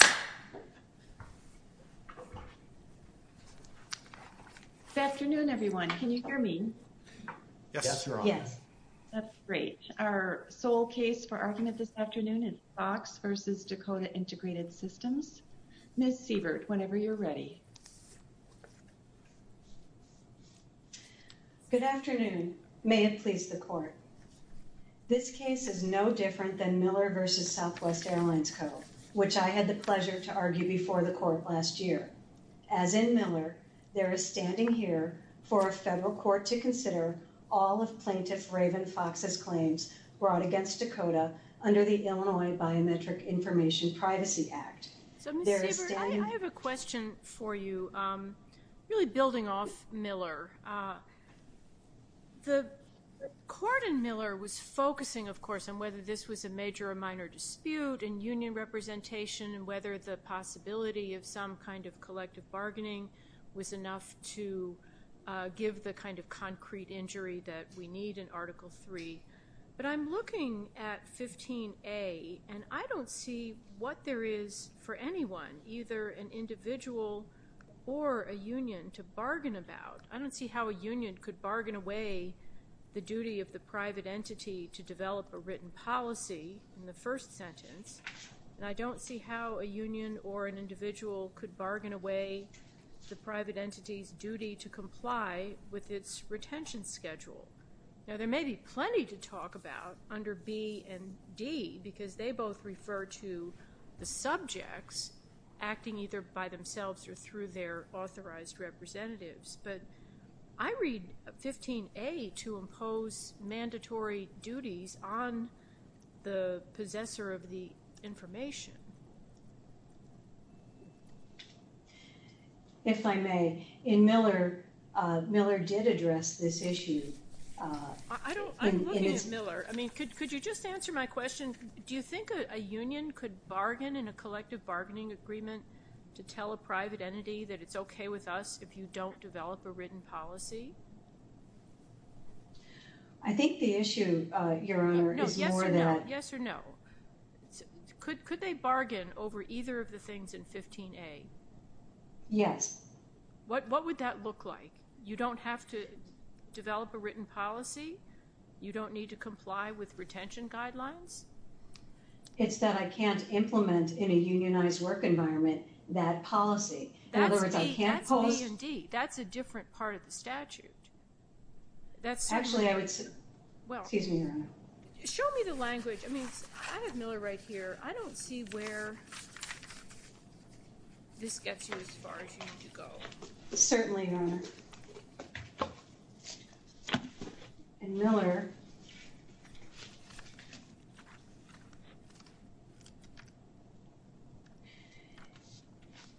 Good afternoon, everyone. Can you hear me? Yes, Your Honor. That's great. Our sole case for argument this afternoon is Fox v. Dakkota Integrated Systems. Ms. Sievert, whenever you're ready. Good afternoon. May it please the Court. This case is no different than the pleasure to argue before the Court last year. As in Miller, there is standing here for a federal court to consider all of Plaintiff Raven Fox's claims brought against Dakkota under the Illinois Biometric Information Privacy Act. So Ms. Sievert, I have a question for you really building off Miller. The Court in Miller was focusing, of course, on whether this was a major or minor dispute in union representation and whether the possibility of some kind of collective bargaining was enough to give the kind of concrete injury that we need in Article III. But I'm looking at 15A, and I don't see what there is for anyone, either an individual or a union, to bargain about. I don't see how a union could first sentence, and I don't see how a union or an individual could bargain away the private entity's duty to comply with its retention schedule. Now, there may be plenty to talk about under B and D because they both refer to the subjects acting either by themselves or through their authorized representatives. But I read 15A to impose mandatory duties on the possessor of the information. If I may, in Miller, Miller did address this issue. I'm looking at Miller. I mean, could you just answer my question? Do you think a union could bargain in a collective bargaining agreement to tell a private entity that it's okay with us if you don't develop a written policy? I think the issue, Your Honor, is more that... Yes or no. Could they bargain over either of the things in 15A? Yes. What would that look like? You don't have to develop a written policy? You don't need to comply with retention guidelines? It's that I can't implement in a unionized work environment that policy. That's B and D. That's a different part of the statute. Actually, I would say... Excuse me, Your Honor. Show me the language. I have Miller right here. I don't see where this gets you as far as you need to go. Certainly, Your Honor. In Miller...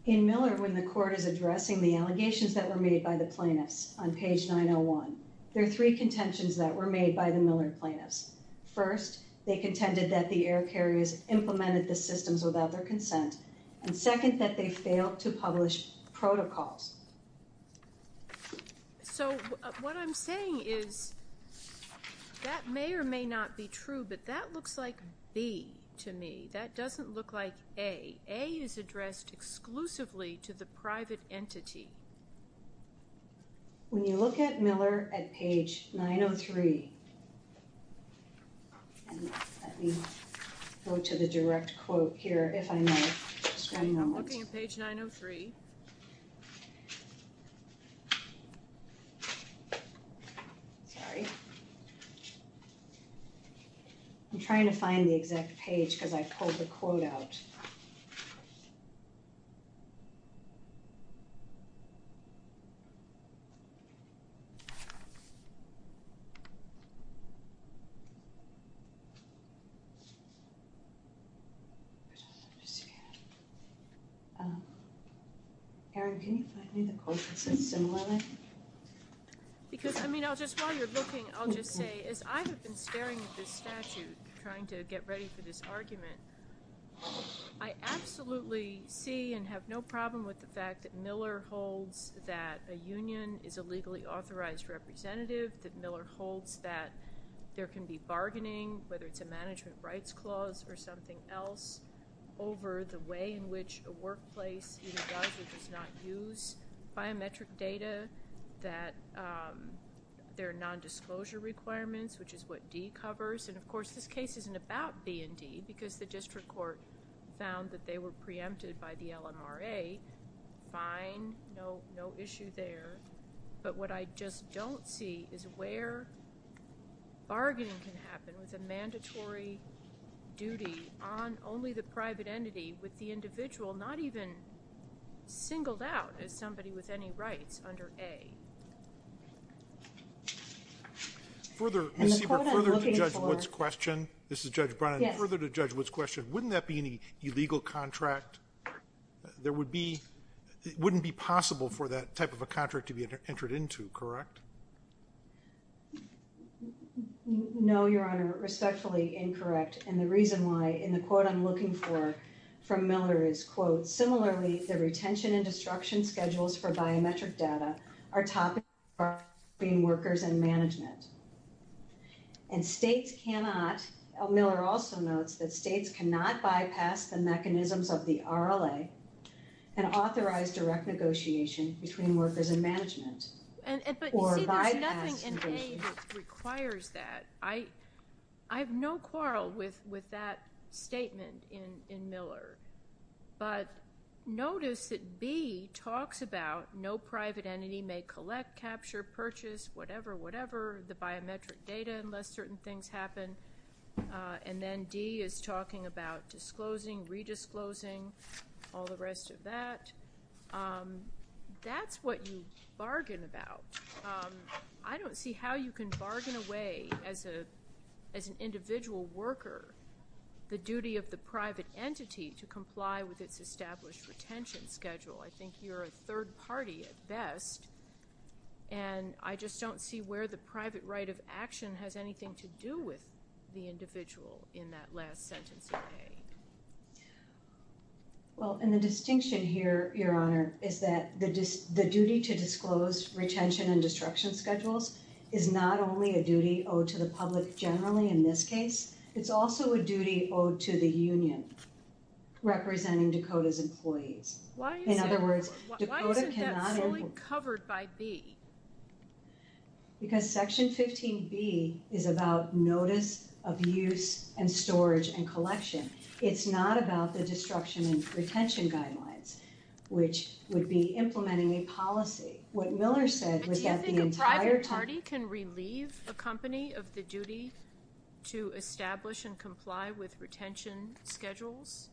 In Miller, when the court is addressing the allegations that were made by the plaintiffs on page 901, there are three contentions that were made by the Miller plaintiffs. First, they contended that the air carriers implemented the systems without their consent, and second, that they failed to publish protocols. So what I'm saying is that may or may not be true, but that looks like B to me. That's not A. That doesn't look like A. A is addressed exclusively to the private entity. When you look at Miller at page 903... Let me go to the direct quote here, if I may. I'm looking at page 903. Sorry. I'm trying to find the exact page because I pulled the quote out. Okay. Erin, can you find me the quote that says similarly? Because, I mean, while you're looking, I'll just say, as I have been staring at this statute trying to get ready for this argument, I absolutely see and have no problem with the fact that Miller holds that a union is a legally authorized representative, that Miller holds that there can be bargaining, whether it's a management rights clause or something else, over the way in which a workplace either does or does not use biometric data, that there are non-disclosure requirements, which is what D covers. And, of course, this case isn't about B and D because the district court found that they were preempted by the LMRA. Fine. No issue there. But what I just don't see is where bargaining can happen with a mandatory duty on only the private entity with the individual not even singled out as somebody with any rights under A. Ms. Sieber, further to Judge Wood's question, wouldn't that be an illegal contract? It wouldn't be possible for that type of a contract to be entered into, correct? No, Your Honor. Respectfully incorrect. And the reason why, in the quote I'm looking for from Miller is, quote, similarly, the retention and destruction schedules for biometric data are topics between workers and management. And states cannot, Miller also notes, that states cannot bypass the mechanisms of the RLA and authorize direct negotiation between workers and management. Or bypass negotiation. But, you see, there's nothing in A that requires that. I have no quarrel with that statement in Miller. But notice that B talks about no private entity may collect, capture, purchase, whatever, whatever, the biometric data unless certain things happen. And then D is talking about disclosing, re-disclosing, all the rest of that. That's what you bargain about. I don't see how you can bargain away, as an individual worker, the duty of the private entity to comply with its established retention and destruction schedule. I think you're a third party at best. And I just don't see where the private right of action has anything to do with the individual in that last sentence of A. Well, and the distinction here, Your Honor, is that the duty to disclose retention and destruction schedules is not only a duty owed to the public generally in this case, it's also a duty owed to the union representing Dakota's employees. Why isn't that fully covered by B? Because Section 15B is about notice of use and storage and collection. It's not about the destruction and retention guidelines, which would be implementing a policy. But do you think a private party can relieve a company of the duty to establish and comply with retention schedules?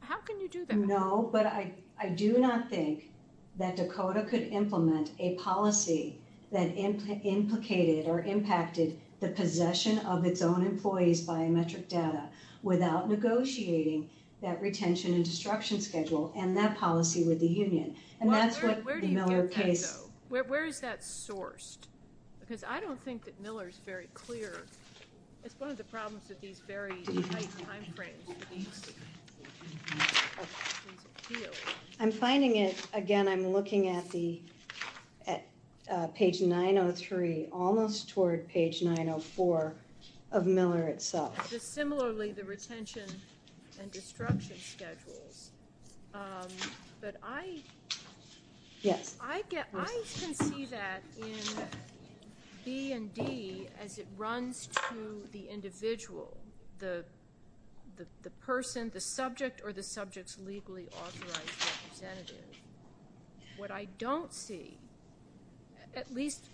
How can you do that? No, but I do not think that Dakota could implement a policy that implicated or impacted the possession of its own employees' biometric data without negotiating that retention and destruction schedule and that policy with the union. Well, where do you get that, though? Where is that sourced? Because I don't think that Miller's very clear. It's one of the I'm finding it, again, I'm looking at page 903, almost toward page 904 of Miller itself. Similarly, the retention and destruction schedules, but I can see that in B and D as it runs to the individual, the person, the subject, or the subject's legally authorized representative. What I don't see, at least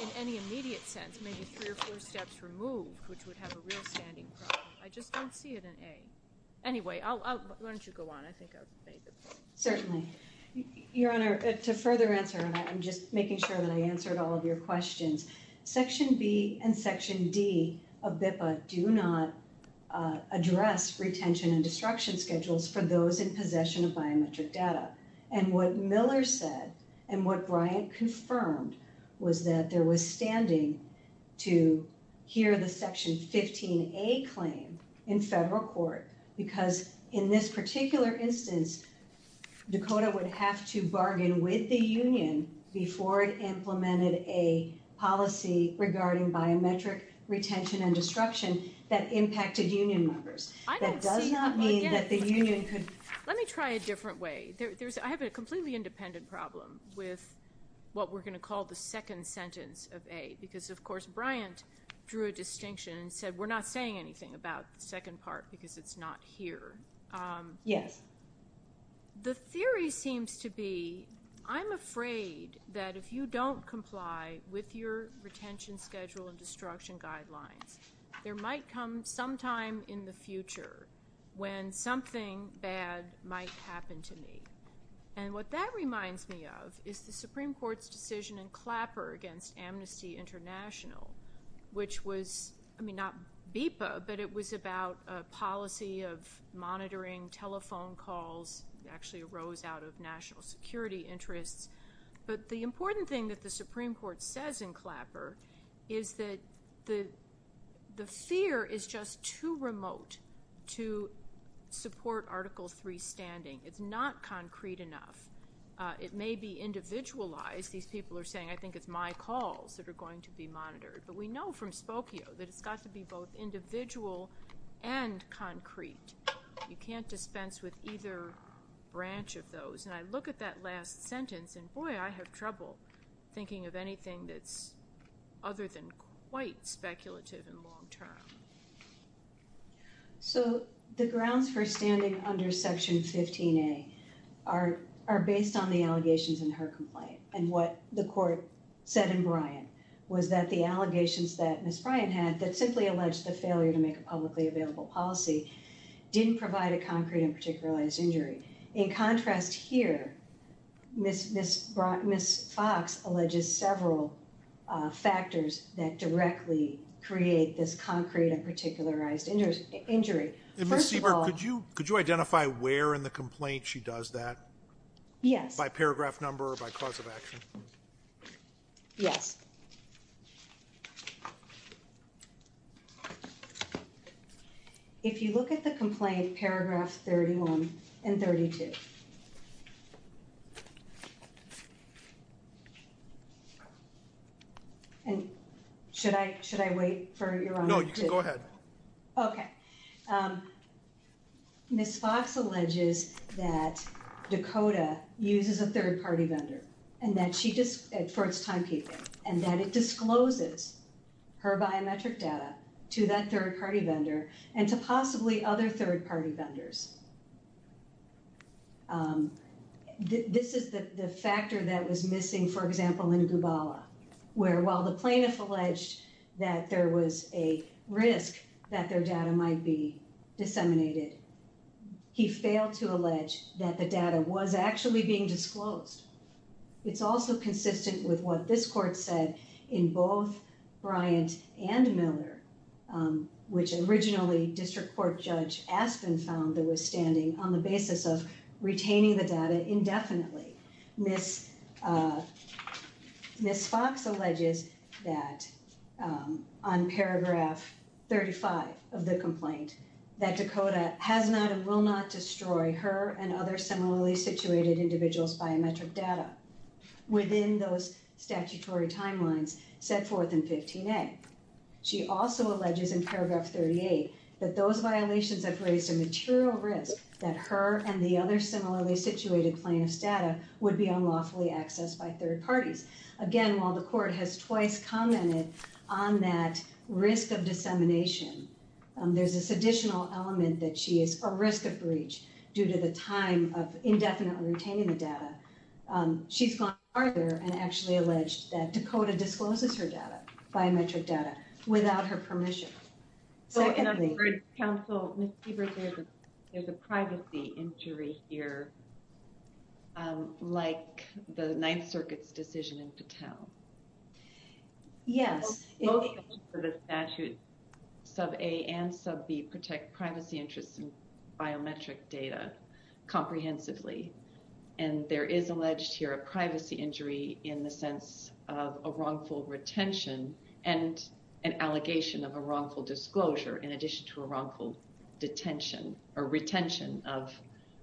in any immediate sense, maybe three or four steps removed, which would have a real standing problem, I just don't see it in A. Anyway, why don't you go on? I think I've made the point. Certainly. Your Honor, to further answer, and I'm just making sure that I answered all of your questions, section B and section D of BIPA do not address retention and destruction schedules for those in possession of biometric data. And what Miller said and what Bryant confirmed was that there was standing to hear the section 15A claim in federal court, because in this particular instance, Dakota would have to make a policy regarding biometric retention and destruction that impacted union members. That does not mean that the union could... Let me try a different way. I have a completely independent problem with what we're going to call the second sentence of A, because, of course, Bryant drew a distinction and said we're not saying anything about the second part because it's not here. Yes. The theory seems to be, I'm afraid that if you don't comply with your retention schedule and destruction guidelines, there might come some time in the future when something bad might happen to me. And what that reminds me of is the Supreme Court's decision in Clapper against Amnesty International, which was, I mean, not BIPA, but it was about a policy of monitoring telephone calls. It actually arose out of national security interests. But the important thing that the Supreme Court says in Clapper is that the fear is just too remote to support Article III standing. It's not concrete enough. It may be individualized. These people are saying, I think it's my calls that are going to be monitored. But we know from Spokio that it's got to be both individual and concrete. You can't dispense with either branch of those. And I look at that last sentence and, boy, I have trouble thinking of anything that's other than quite speculative and long-term. So the grounds for standing under Section 15A are based on the allegations in her complaint. And what the court said in Bryant was that the allegations that Ms. Bryant had, that simply alleged the failure to make a publicly available policy, didn't provide a concrete and particularized injury. In contrast here, Ms. Fox alleges several factors that directly create this concrete and particularized injury. First of all— And Ms. Siebert, could you identify where in the complaint she does that? Yes. By paragraph number or by cause of action? Yes. If you look at the complaint, paragraph 31 and 32— And should I wait for your honor to— No, you can go ahead. Okay. Ms. Fox alleges that Dakota uses a third-party vendor for its timekeeping and that it discloses her biometric data to that third-party vendor and to possibly other third-party vendors. This is the factor that was missing, for example, in Gubala, where while the plaintiff alleged that there was a risk that their data might be disseminated, he failed to allege that the data was actually being disclosed. It's also consistent with what this court said in both Bryant and Miller, which originally District Court Judge Aspen found there was standing on the basis of retaining the data indefinitely. Ms. Fox alleges that, on paragraph 35 of the complaint, that Dakota has not and will not destroy her and other similarly situated individuals' biometric data within those statutory timelines set forth in 15A. She also alleges in paragraph 38 that those violations have raised a material risk that her and the other similarly situated plaintiffs' data would be unlawfully accessed by third parties. Again, while the court has twice commented on that risk of dissemination, there's this additional element that she is a risk of breach due to the time of indefinitely retaining the data. She's gone farther and actually alleged that Dakota discloses her data, biometric data, without her permission. So in a third counsel, Ms. Siebert, there's a privacy injury here, like the Ninth Circuit's decision in Patel. Yes. Both sections of the statute, sub A and sub B, protect privacy interests in biometric data comprehensively, and there is alleged here a privacy injury in the sense of a wrongful retention and an allegation of a wrongful disclosure in addition to a wrongful detention or retention of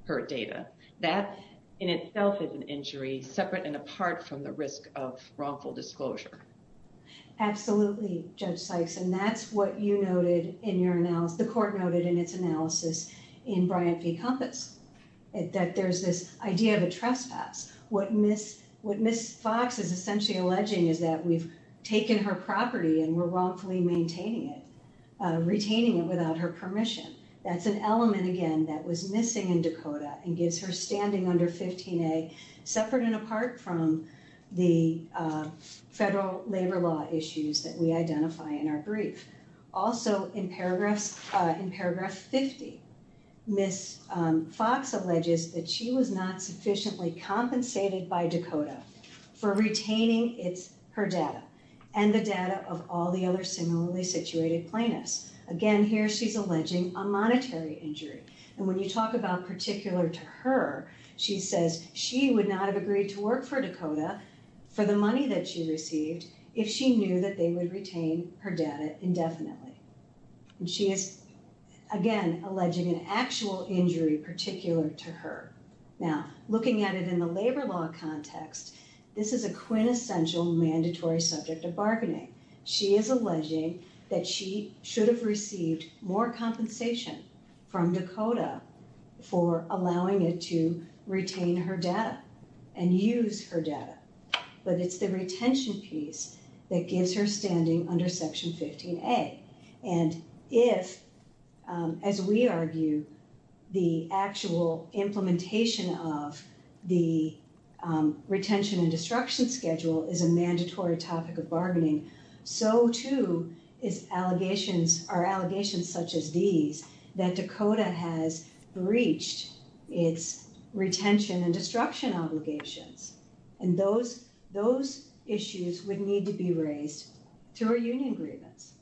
her data. That in itself is an injury separate and apart from the risk of wrongful disclosure. Absolutely, Judge Sykes, and that's what you noted in your analysis, the court noted in its analysis in Bryant v. Compass, that there's this idea of a trespass. What Ms. Fox is essentially alleging is that we've taken her property and we're wrongfully maintaining it, retaining it without her permission. That's an element, again, that was missing in Dakota and gives her standing under 15A separate and apart from the federal labor law issues that we identify in our brief. Also, in paragraph 50, Ms. Fox alleges that she was not sufficiently compensated by Dakota for retaining her data and the data of all the other similarly situated plaintiffs. Again, here she's alleging a monetary injury. When you talk about particular to her, she says she would not have agreed to work for Dakota for the money that she received if she knew that they would retain her data indefinitely. She is, again, alleging an actual injury particular to her. Now, looking at it in the labor law context, this is a quintessential mandatory subject of bargaining. She is alleging that she should have received more compensation from Dakota for allowing it to retain her data and use her data, but it's the retention piece that gives her standing under section 15A. If, as we argue, the actual compensation for her implementation of the retention and destruction schedule is a mandatory topic of bargaining, so too are allegations such as these, that Dakota has breached its retention and destruction obligations, and those issues would need to be raised through a union grievance,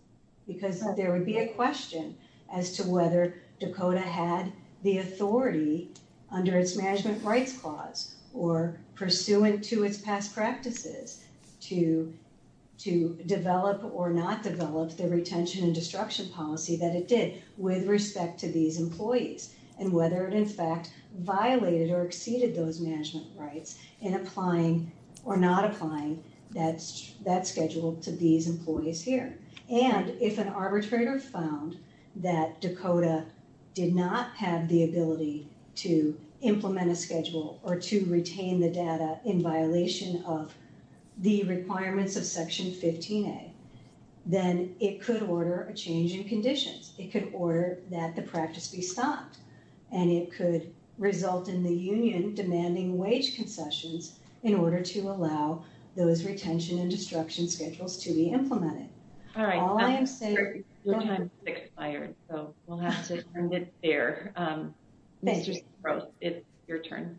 because there would be a question as to whether Dakota had the authority under its management rights clause or pursuant to its past practices to develop or not develop the retention and destruction policy that it did with respect to these employees, and whether it in fact violated or exceeded those management rights in applying or not applying that schedule to these employees here. And if an arbitrator found that Dakota did not have the ability to implement a schedule or to retain the data in violation of the requirements of section 15A, then it could order a change in conditions. It could order that the practice be stopped, and it could result in the union demanding wage concessions in order to allow those retention and destruction schedules to be implemented. All I am saying is that your time has expired, so we'll have to end it there. Thank you. Mr. Zuros, it's your turn.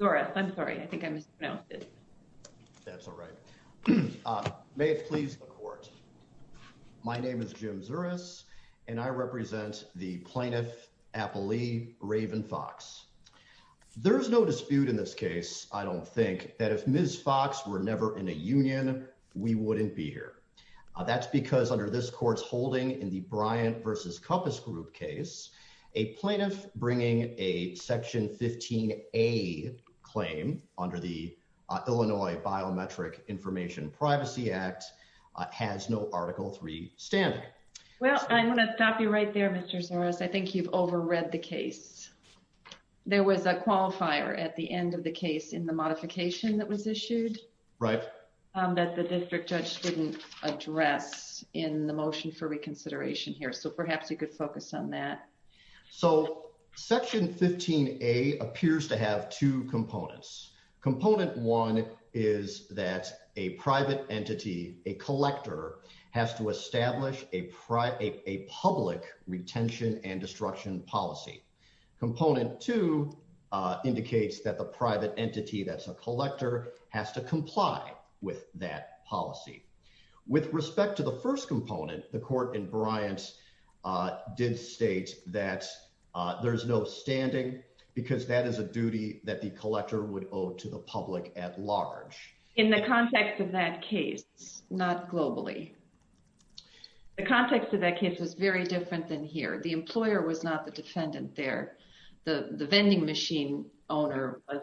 Zuras, I'm sorry. I think I mispronounced it. That's all right. May it please the Court. My name is Jim Zuras, and I represent the plaintiff, Appalee Raven Fox. There's no dispute in this case, I don't think, that if Ms. Fox were never in a union, we wouldn't be here. That's because under this Court's holding in the Bryant v. Compass Group case, a plaintiff bringing a section 15A claim under the Illinois Biometric Information Privacy Act has no Article III standing. Well, I'm going to stop you right there, Mr. Zuros. I think you've over-read the case. There was a qualifier at the end of the case in the modification that was issued. Right. That the district judge didn't address in the motion for reconsideration here, so perhaps you could focus on that. So, section 15A appears to have two components. Component one is that a private entity, a collector, has to comply with that policy. Component two indicates that the private entity, that's a collector, has to comply with that policy. With respect to the first component, the Court in Bryant did state that there's no standing because that is a duty that the collector would owe to the public at large. In the context of that case, not globally, the context of that case was very different than here. The employer was not the defendant there. The vending machine owner was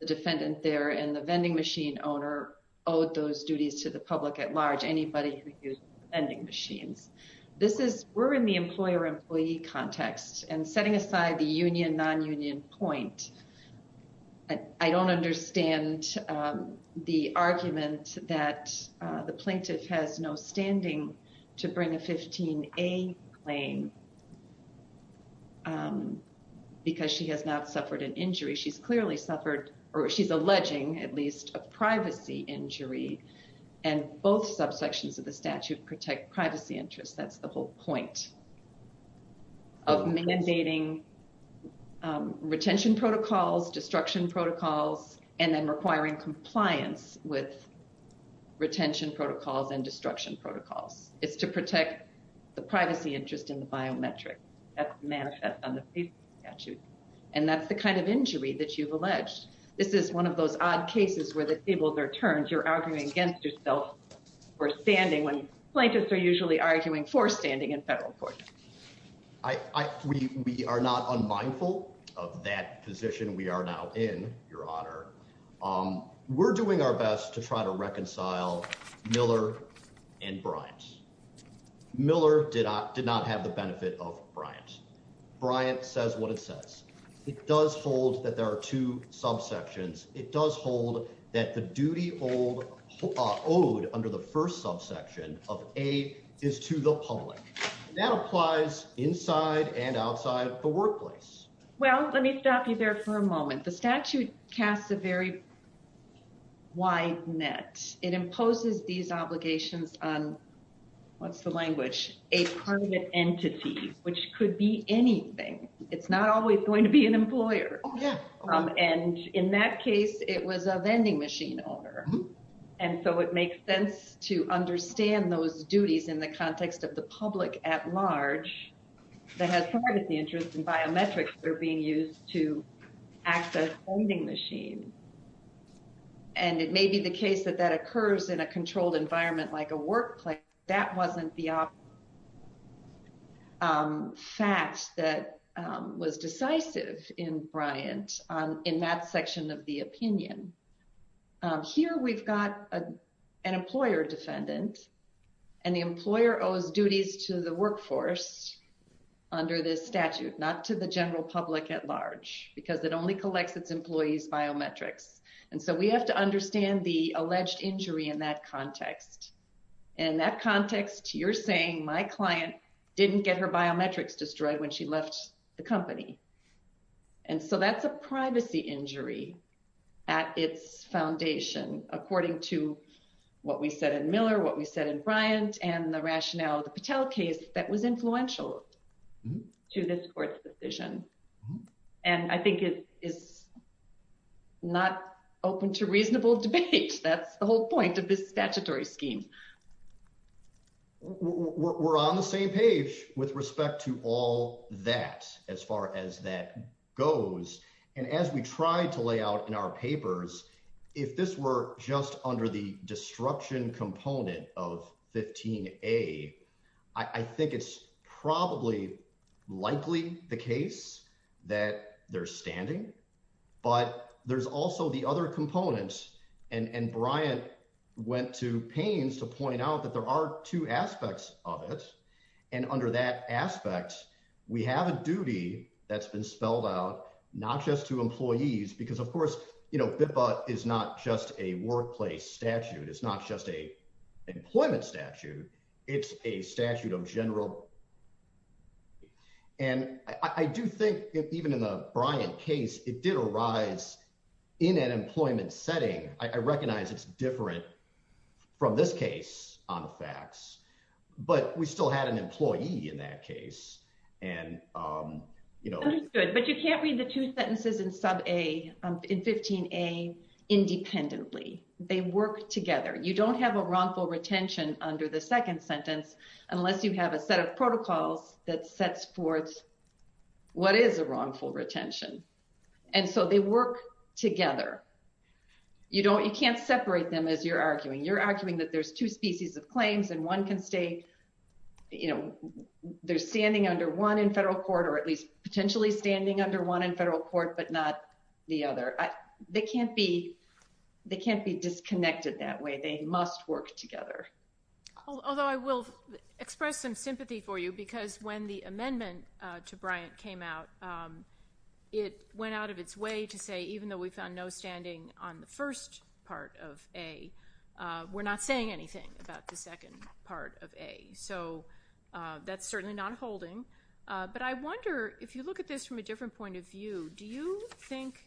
the defendant there, and the vending machine owner owed those duties to the public at large, anybody who used vending machines. This is, we're in the employer-employee context, and setting aside the union, non-union point, I don't understand the argument that the plaintiff has no standing to bring a 15A claim because she has not suffered an injury. She's clearly suffered, or she's alleging at least, a privacy injury, and both subsections of the statute protect privacy interests. That's the whole point of mandating retention protocols, destruction protocols, and then requiring compliance with retention protocols and destruction protocols. It's to protect the privacy interest in the biometric. That manifests on the paper statute, and that's the kind of injury that you've alleged. This is one of those odd cases where you're arguing against yourself for standing when plaintiffs are usually arguing for standing in federal court. We are not unmindful of that position we are now in, Your Honor. We're doing our best to try to reconcile Miller and Bryant. Miller did not have the benefit of Bryant. Bryant says what it says. It does hold that there are two subsections. It does hold that the duty owed under the first subsection of A is to the public. That applies inside and outside the workplace. Well, let me stop you there for a moment. The statute casts a very wide net. It imposes these obligations on, what's the language, a private entity, which could be anything. It's not always going to be an employer. And in that case, it was a vending machine owner. And so it makes sense to understand those duties in the context of the public at large that has privacy interests and biometrics that are being used to access vending machines. And it may be the case that that occurs in a controlled environment like a workplace. That wasn't the fact that was decisive in Bryant in that section of the opinion. Here we've got an employer defendant, and the employer owes duties to the workforce under this statute, not to the general public at large, because it only collects its employees biometrics. And so we have to understand the alleged injury in that context. And that context, you're saying my client didn't get her biometrics destroyed when she left the company. And so that's a privacy injury at its foundation, according to what we said in Miller, what we said in Bryant, and the rationale of the Patel case that was influential to this court's decision. And I think it is not open to reasonable debate. That's the whole point of this statutory scheme. We're on the same page with respect to all that as far as that goes. And as we tried to lay out in our papers, if this were just under the destruction component of 15A, I think it's probably likely the case that they're standing. But there's also the other components and Bryant went to pains to point out that there are two aspects of it. And under that aspect, we have a duty that's been spelled out, not just to employees, because of course, you know, BIPA is not just a workplace statute. It's not just a employment statute. It's a statute of general. And I do think even in the Bryant case, it did arise in an employment setting. I recognize it's different from this case on the facts, but we still had an employee in that case. And, you know, But you can't read the two sentences in 15A independently. They work together. You don't have a wrongful retention under the second sentence, unless you have a set of protocols that sets forth what is a wrongful retention. And so they work together. You can't separate them as you're arguing. You're arguing that there's two species of claims and one can stay, you know, they're standing under one in federal court, or at least potentially standing under one in federal court, but not the other. They can't be disconnected that way. They must work together. Although I will express some sympathy for you, because when the amendment to Bryant came out, it went out of its way to say even though we found no standing on the first part of A, we're not saying anything about the second part of A. So that's certainly not holding. But I wonder, if you look at this from a different point of view, do you think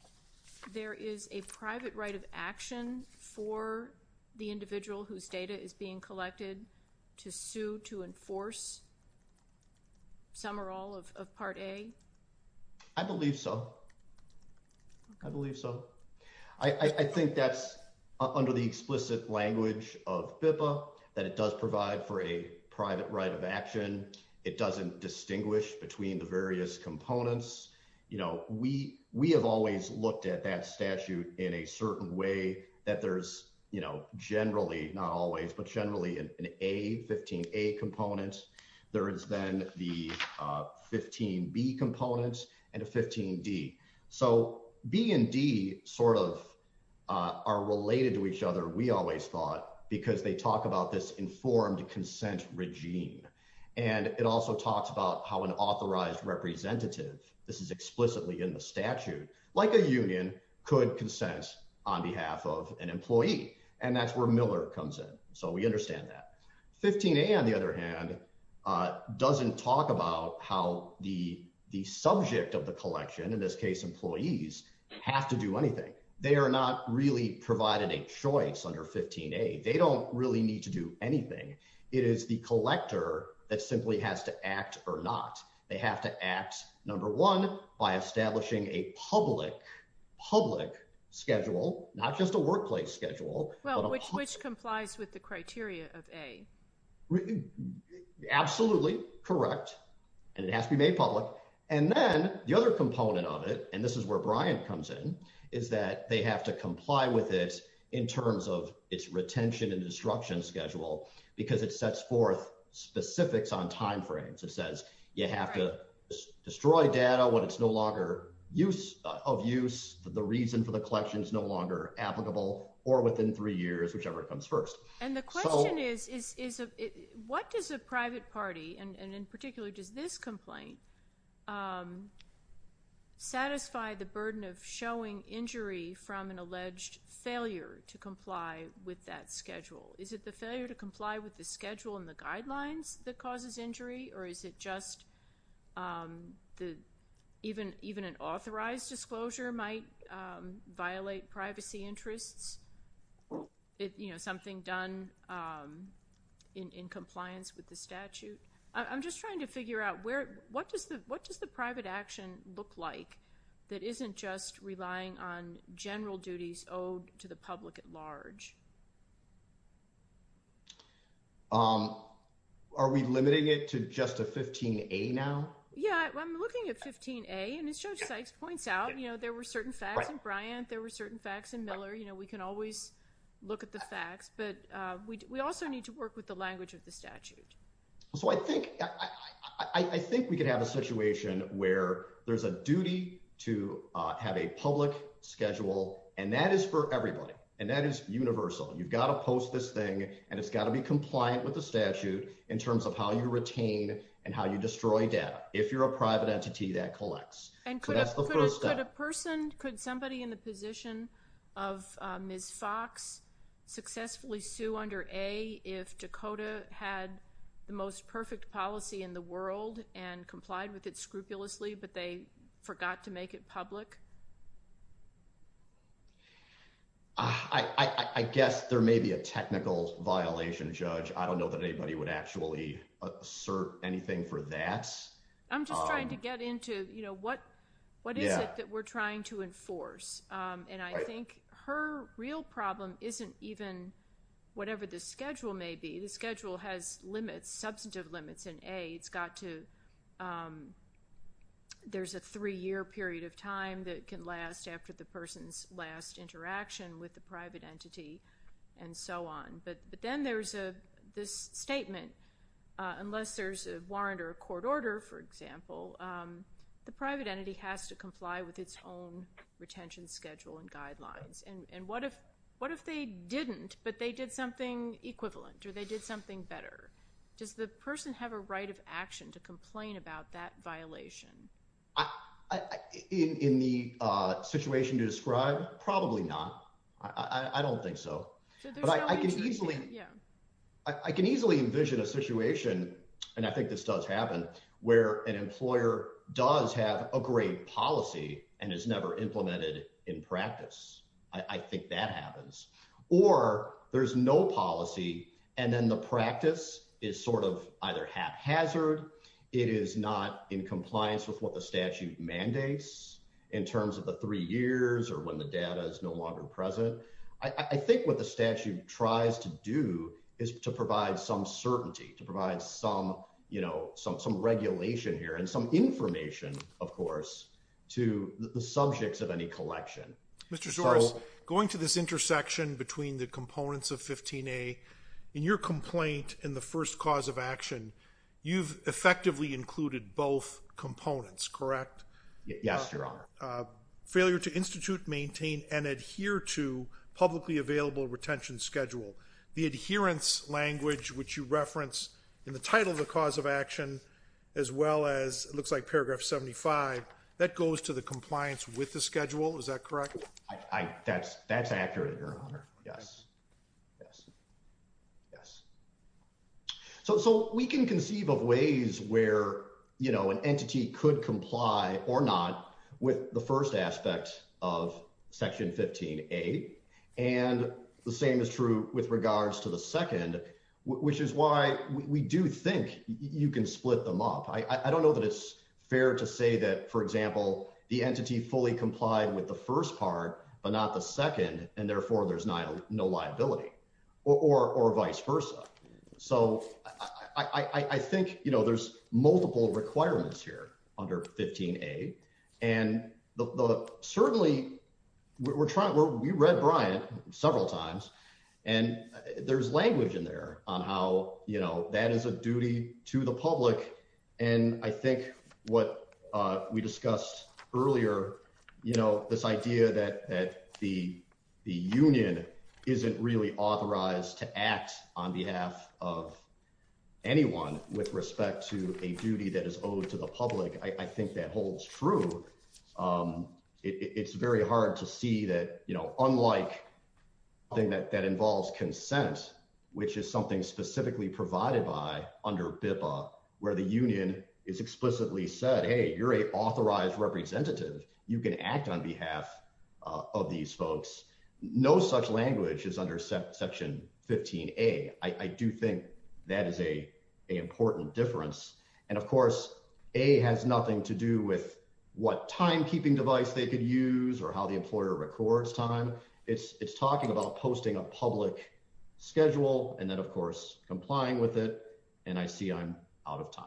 there is a private right of action for the individual whose data is being collected to sue to enforce some or all of part A? I believe so. I believe so. I think that's under the explicit language of BIPA, that it does provide for a private right of action. It doesn't distinguish between the various components. You know, we have always looked at that statute in a certain way, that there's generally, not always, but generally an A, 15A component. There is then the 15B component and a 15D. So B and D sort of are related to each other, we always thought, because they talk about this informed consent regime. And it also talks about how an authorized representative, this is explicitly in the statute, like a union, could consent on behalf of an employee. And that's where Miller comes in. So we understand that. 15A, on the other hand, doesn't talk about how the subject of the collection, in this case employees, have to do anything. They are not really provided a choice under 15A. They don't really need to do anything. It is the collector that simply has to act or not. They have to act, number one, by establishing a public, public schedule, not just a workplace schedule. Well, which complies with the criteria of A. Absolutely, correct. And it has to be made public. And then the other component of it, and this is where Brian comes in, is that they have to comply with it in terms of its retention and destruction schedule, because it sets forth specifics on timeframes. It says you have to destroy data when it's no longer of use, the reason for the collection is no longer applicable, or within three years, whichever comes first. And the question is, what does a private party, and in particular does this complaint, satisfy the burden of showing injury from an alleged failure to comply with that schedule? Is it the failure to comply with the schedule and the guidelines that causes injury, or is it just even an authorized disclosure might violate privacy interests? You know, something done in compliance with the statute? I'm just trying to figure out, what does the private action look like that isn't just relying on general duties owed to the public at large? Are we limiting it to just a 15A now? Yeah, I'm looking at 15A, and as Judge Sykes points out, you know, there were certain facts in Bryant, there were certain facts in Miller, you know, we can always look at the facts, but we also need to work with the language of the statute. So I think we could have a situation where there's a duty to have a public schedule, and that is for everybody, and that is universal. You've got to post this thing, and it's got to be compliant with the statute in terms of how you retain and how you destroy data. If you're a private entity, that collects. So that's the first step. Could a person, could somebody in the position of Ms. Fox successfully sue under A if Dakota had the most perfect policy in the world and complied with it scrupulously, but they forgot to make it public? I guess there may be a technical violation, Judge. I don't know that anybody would actually assert anything for that. I'm just trying to get into, you know, what is it that we're trying to enforce, and I think her real problem isn't even whatever the schedule may be. The schedule has limits, substantive limits, and A, it's got to, there's a three-year period of time that can last after the person's last interaction with the private entity and so on. But then there's this statement, unless there's a warrant or a court order, for example, the private entity has to comply with its own retention schedule and guidelines. And what if they didn't, but they did something equivalent or they did something better? Does the person have a right of action to complain about that violation? In the situation to describe, probably not. I don't think so. I can easily envision a situation, and I think this does happen, where an employer does have a great policy and is never implemented in practice. I think that happens. Or there's no policy, and then the practice is sort of either haphazard, it is not in compliance with what the statute mandates in terms of the three years or when the data is no longer present. I think what the statute tries to do is to provide some certainty, to provide some regulation here and some information, of course, to the subjects of any collection. Mr. Soares, going to this intersection between the components of 15A, in your complaint in the first cause of action, you've effectively included both components, correct? Yes, Your Honor. Failure to institute, maintain, and adhere to publicly available retention schedule. The adherence language, which you reference in the title of the cause of action, as well as, it looks like paragraph 75, that goes to the compliance with the schedule, is that correct? That's accurate, Your Honor. Yes, yes, yes. So we can conceive of ways where, you know, an entity could comply or not with the first aspect of Section 15A, and the same is true with regards to the second, which is why we do think you can split them up. I don't know that it's fair to say that, for example, the entity fully complied with the first part, but not the second, and therefore there's no liability, or vice versa. So I think, you know, there's multiple requirements here under 15A, and certainly we read Bryant several times, and there's language in there on how, you know, that is a duty to the public, and I think what we discussed earlier, you know, this idea that the union isn't really authorized to act on behalf of anyone with respect to a duty that is owed to the public, I think that holds true. It's very hard to see that, you know, unlike something that involves consent, which is something specifically provided by under BIPA, where the union is explicitly said, hey, you're an authorized representative, you can act on behalf of these folks. No such language is under Section 15A. I do think that is an important difference, and, of course, A has nothing to do with what timekeeping device they could use or how the employer records time. It's talking about posting a public schedule and then, of course, complying with it, and I see I'm out of time.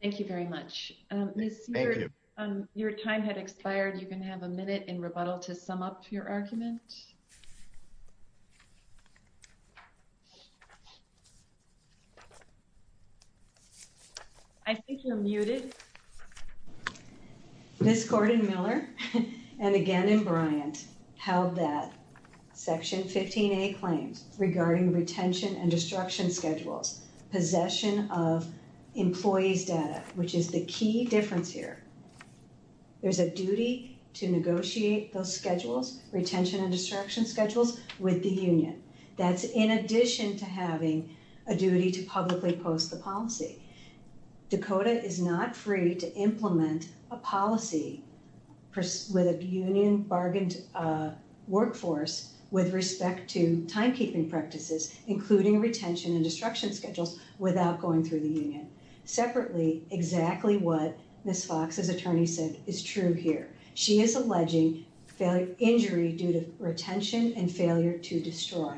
Thank you very much. Thank you. Your time had expired. You can have a minute in rebuttal to sum up your argument. I think you're muted. Ms. Gordon-Miller, and again in Bryant, held that Section 15A claims regarding retention and destruction schedules, possession of employees' data, which is the key difference here. There's a duty to negotiate those schedules, retention and destruction schedules, with the union. That's in addition to having a duty to publicly post the policy. Dakota is not free to implement a policy with a union bargained workforce with respect to timekeeping practices, including retention and destruction schedules, without going through the union. Separately, exactly what Ms. Fox's attorney said is true here. She is alleging injury due to retention and failure to destroy.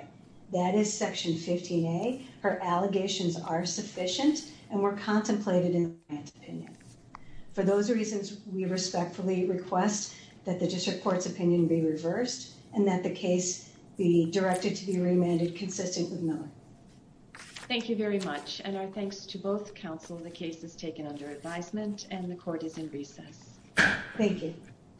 That is Section 15A. Her allegations are sufficient and were contemplated in Bryant's opinion. For those reasons, we respectfully request that the district court's opinion be reversed and that the case be directed to be remanded consistent with Miller. Thank you very much, and our thanks to both counsel. The case is taken under advisement and the court is in recess. Thank you. Thank you.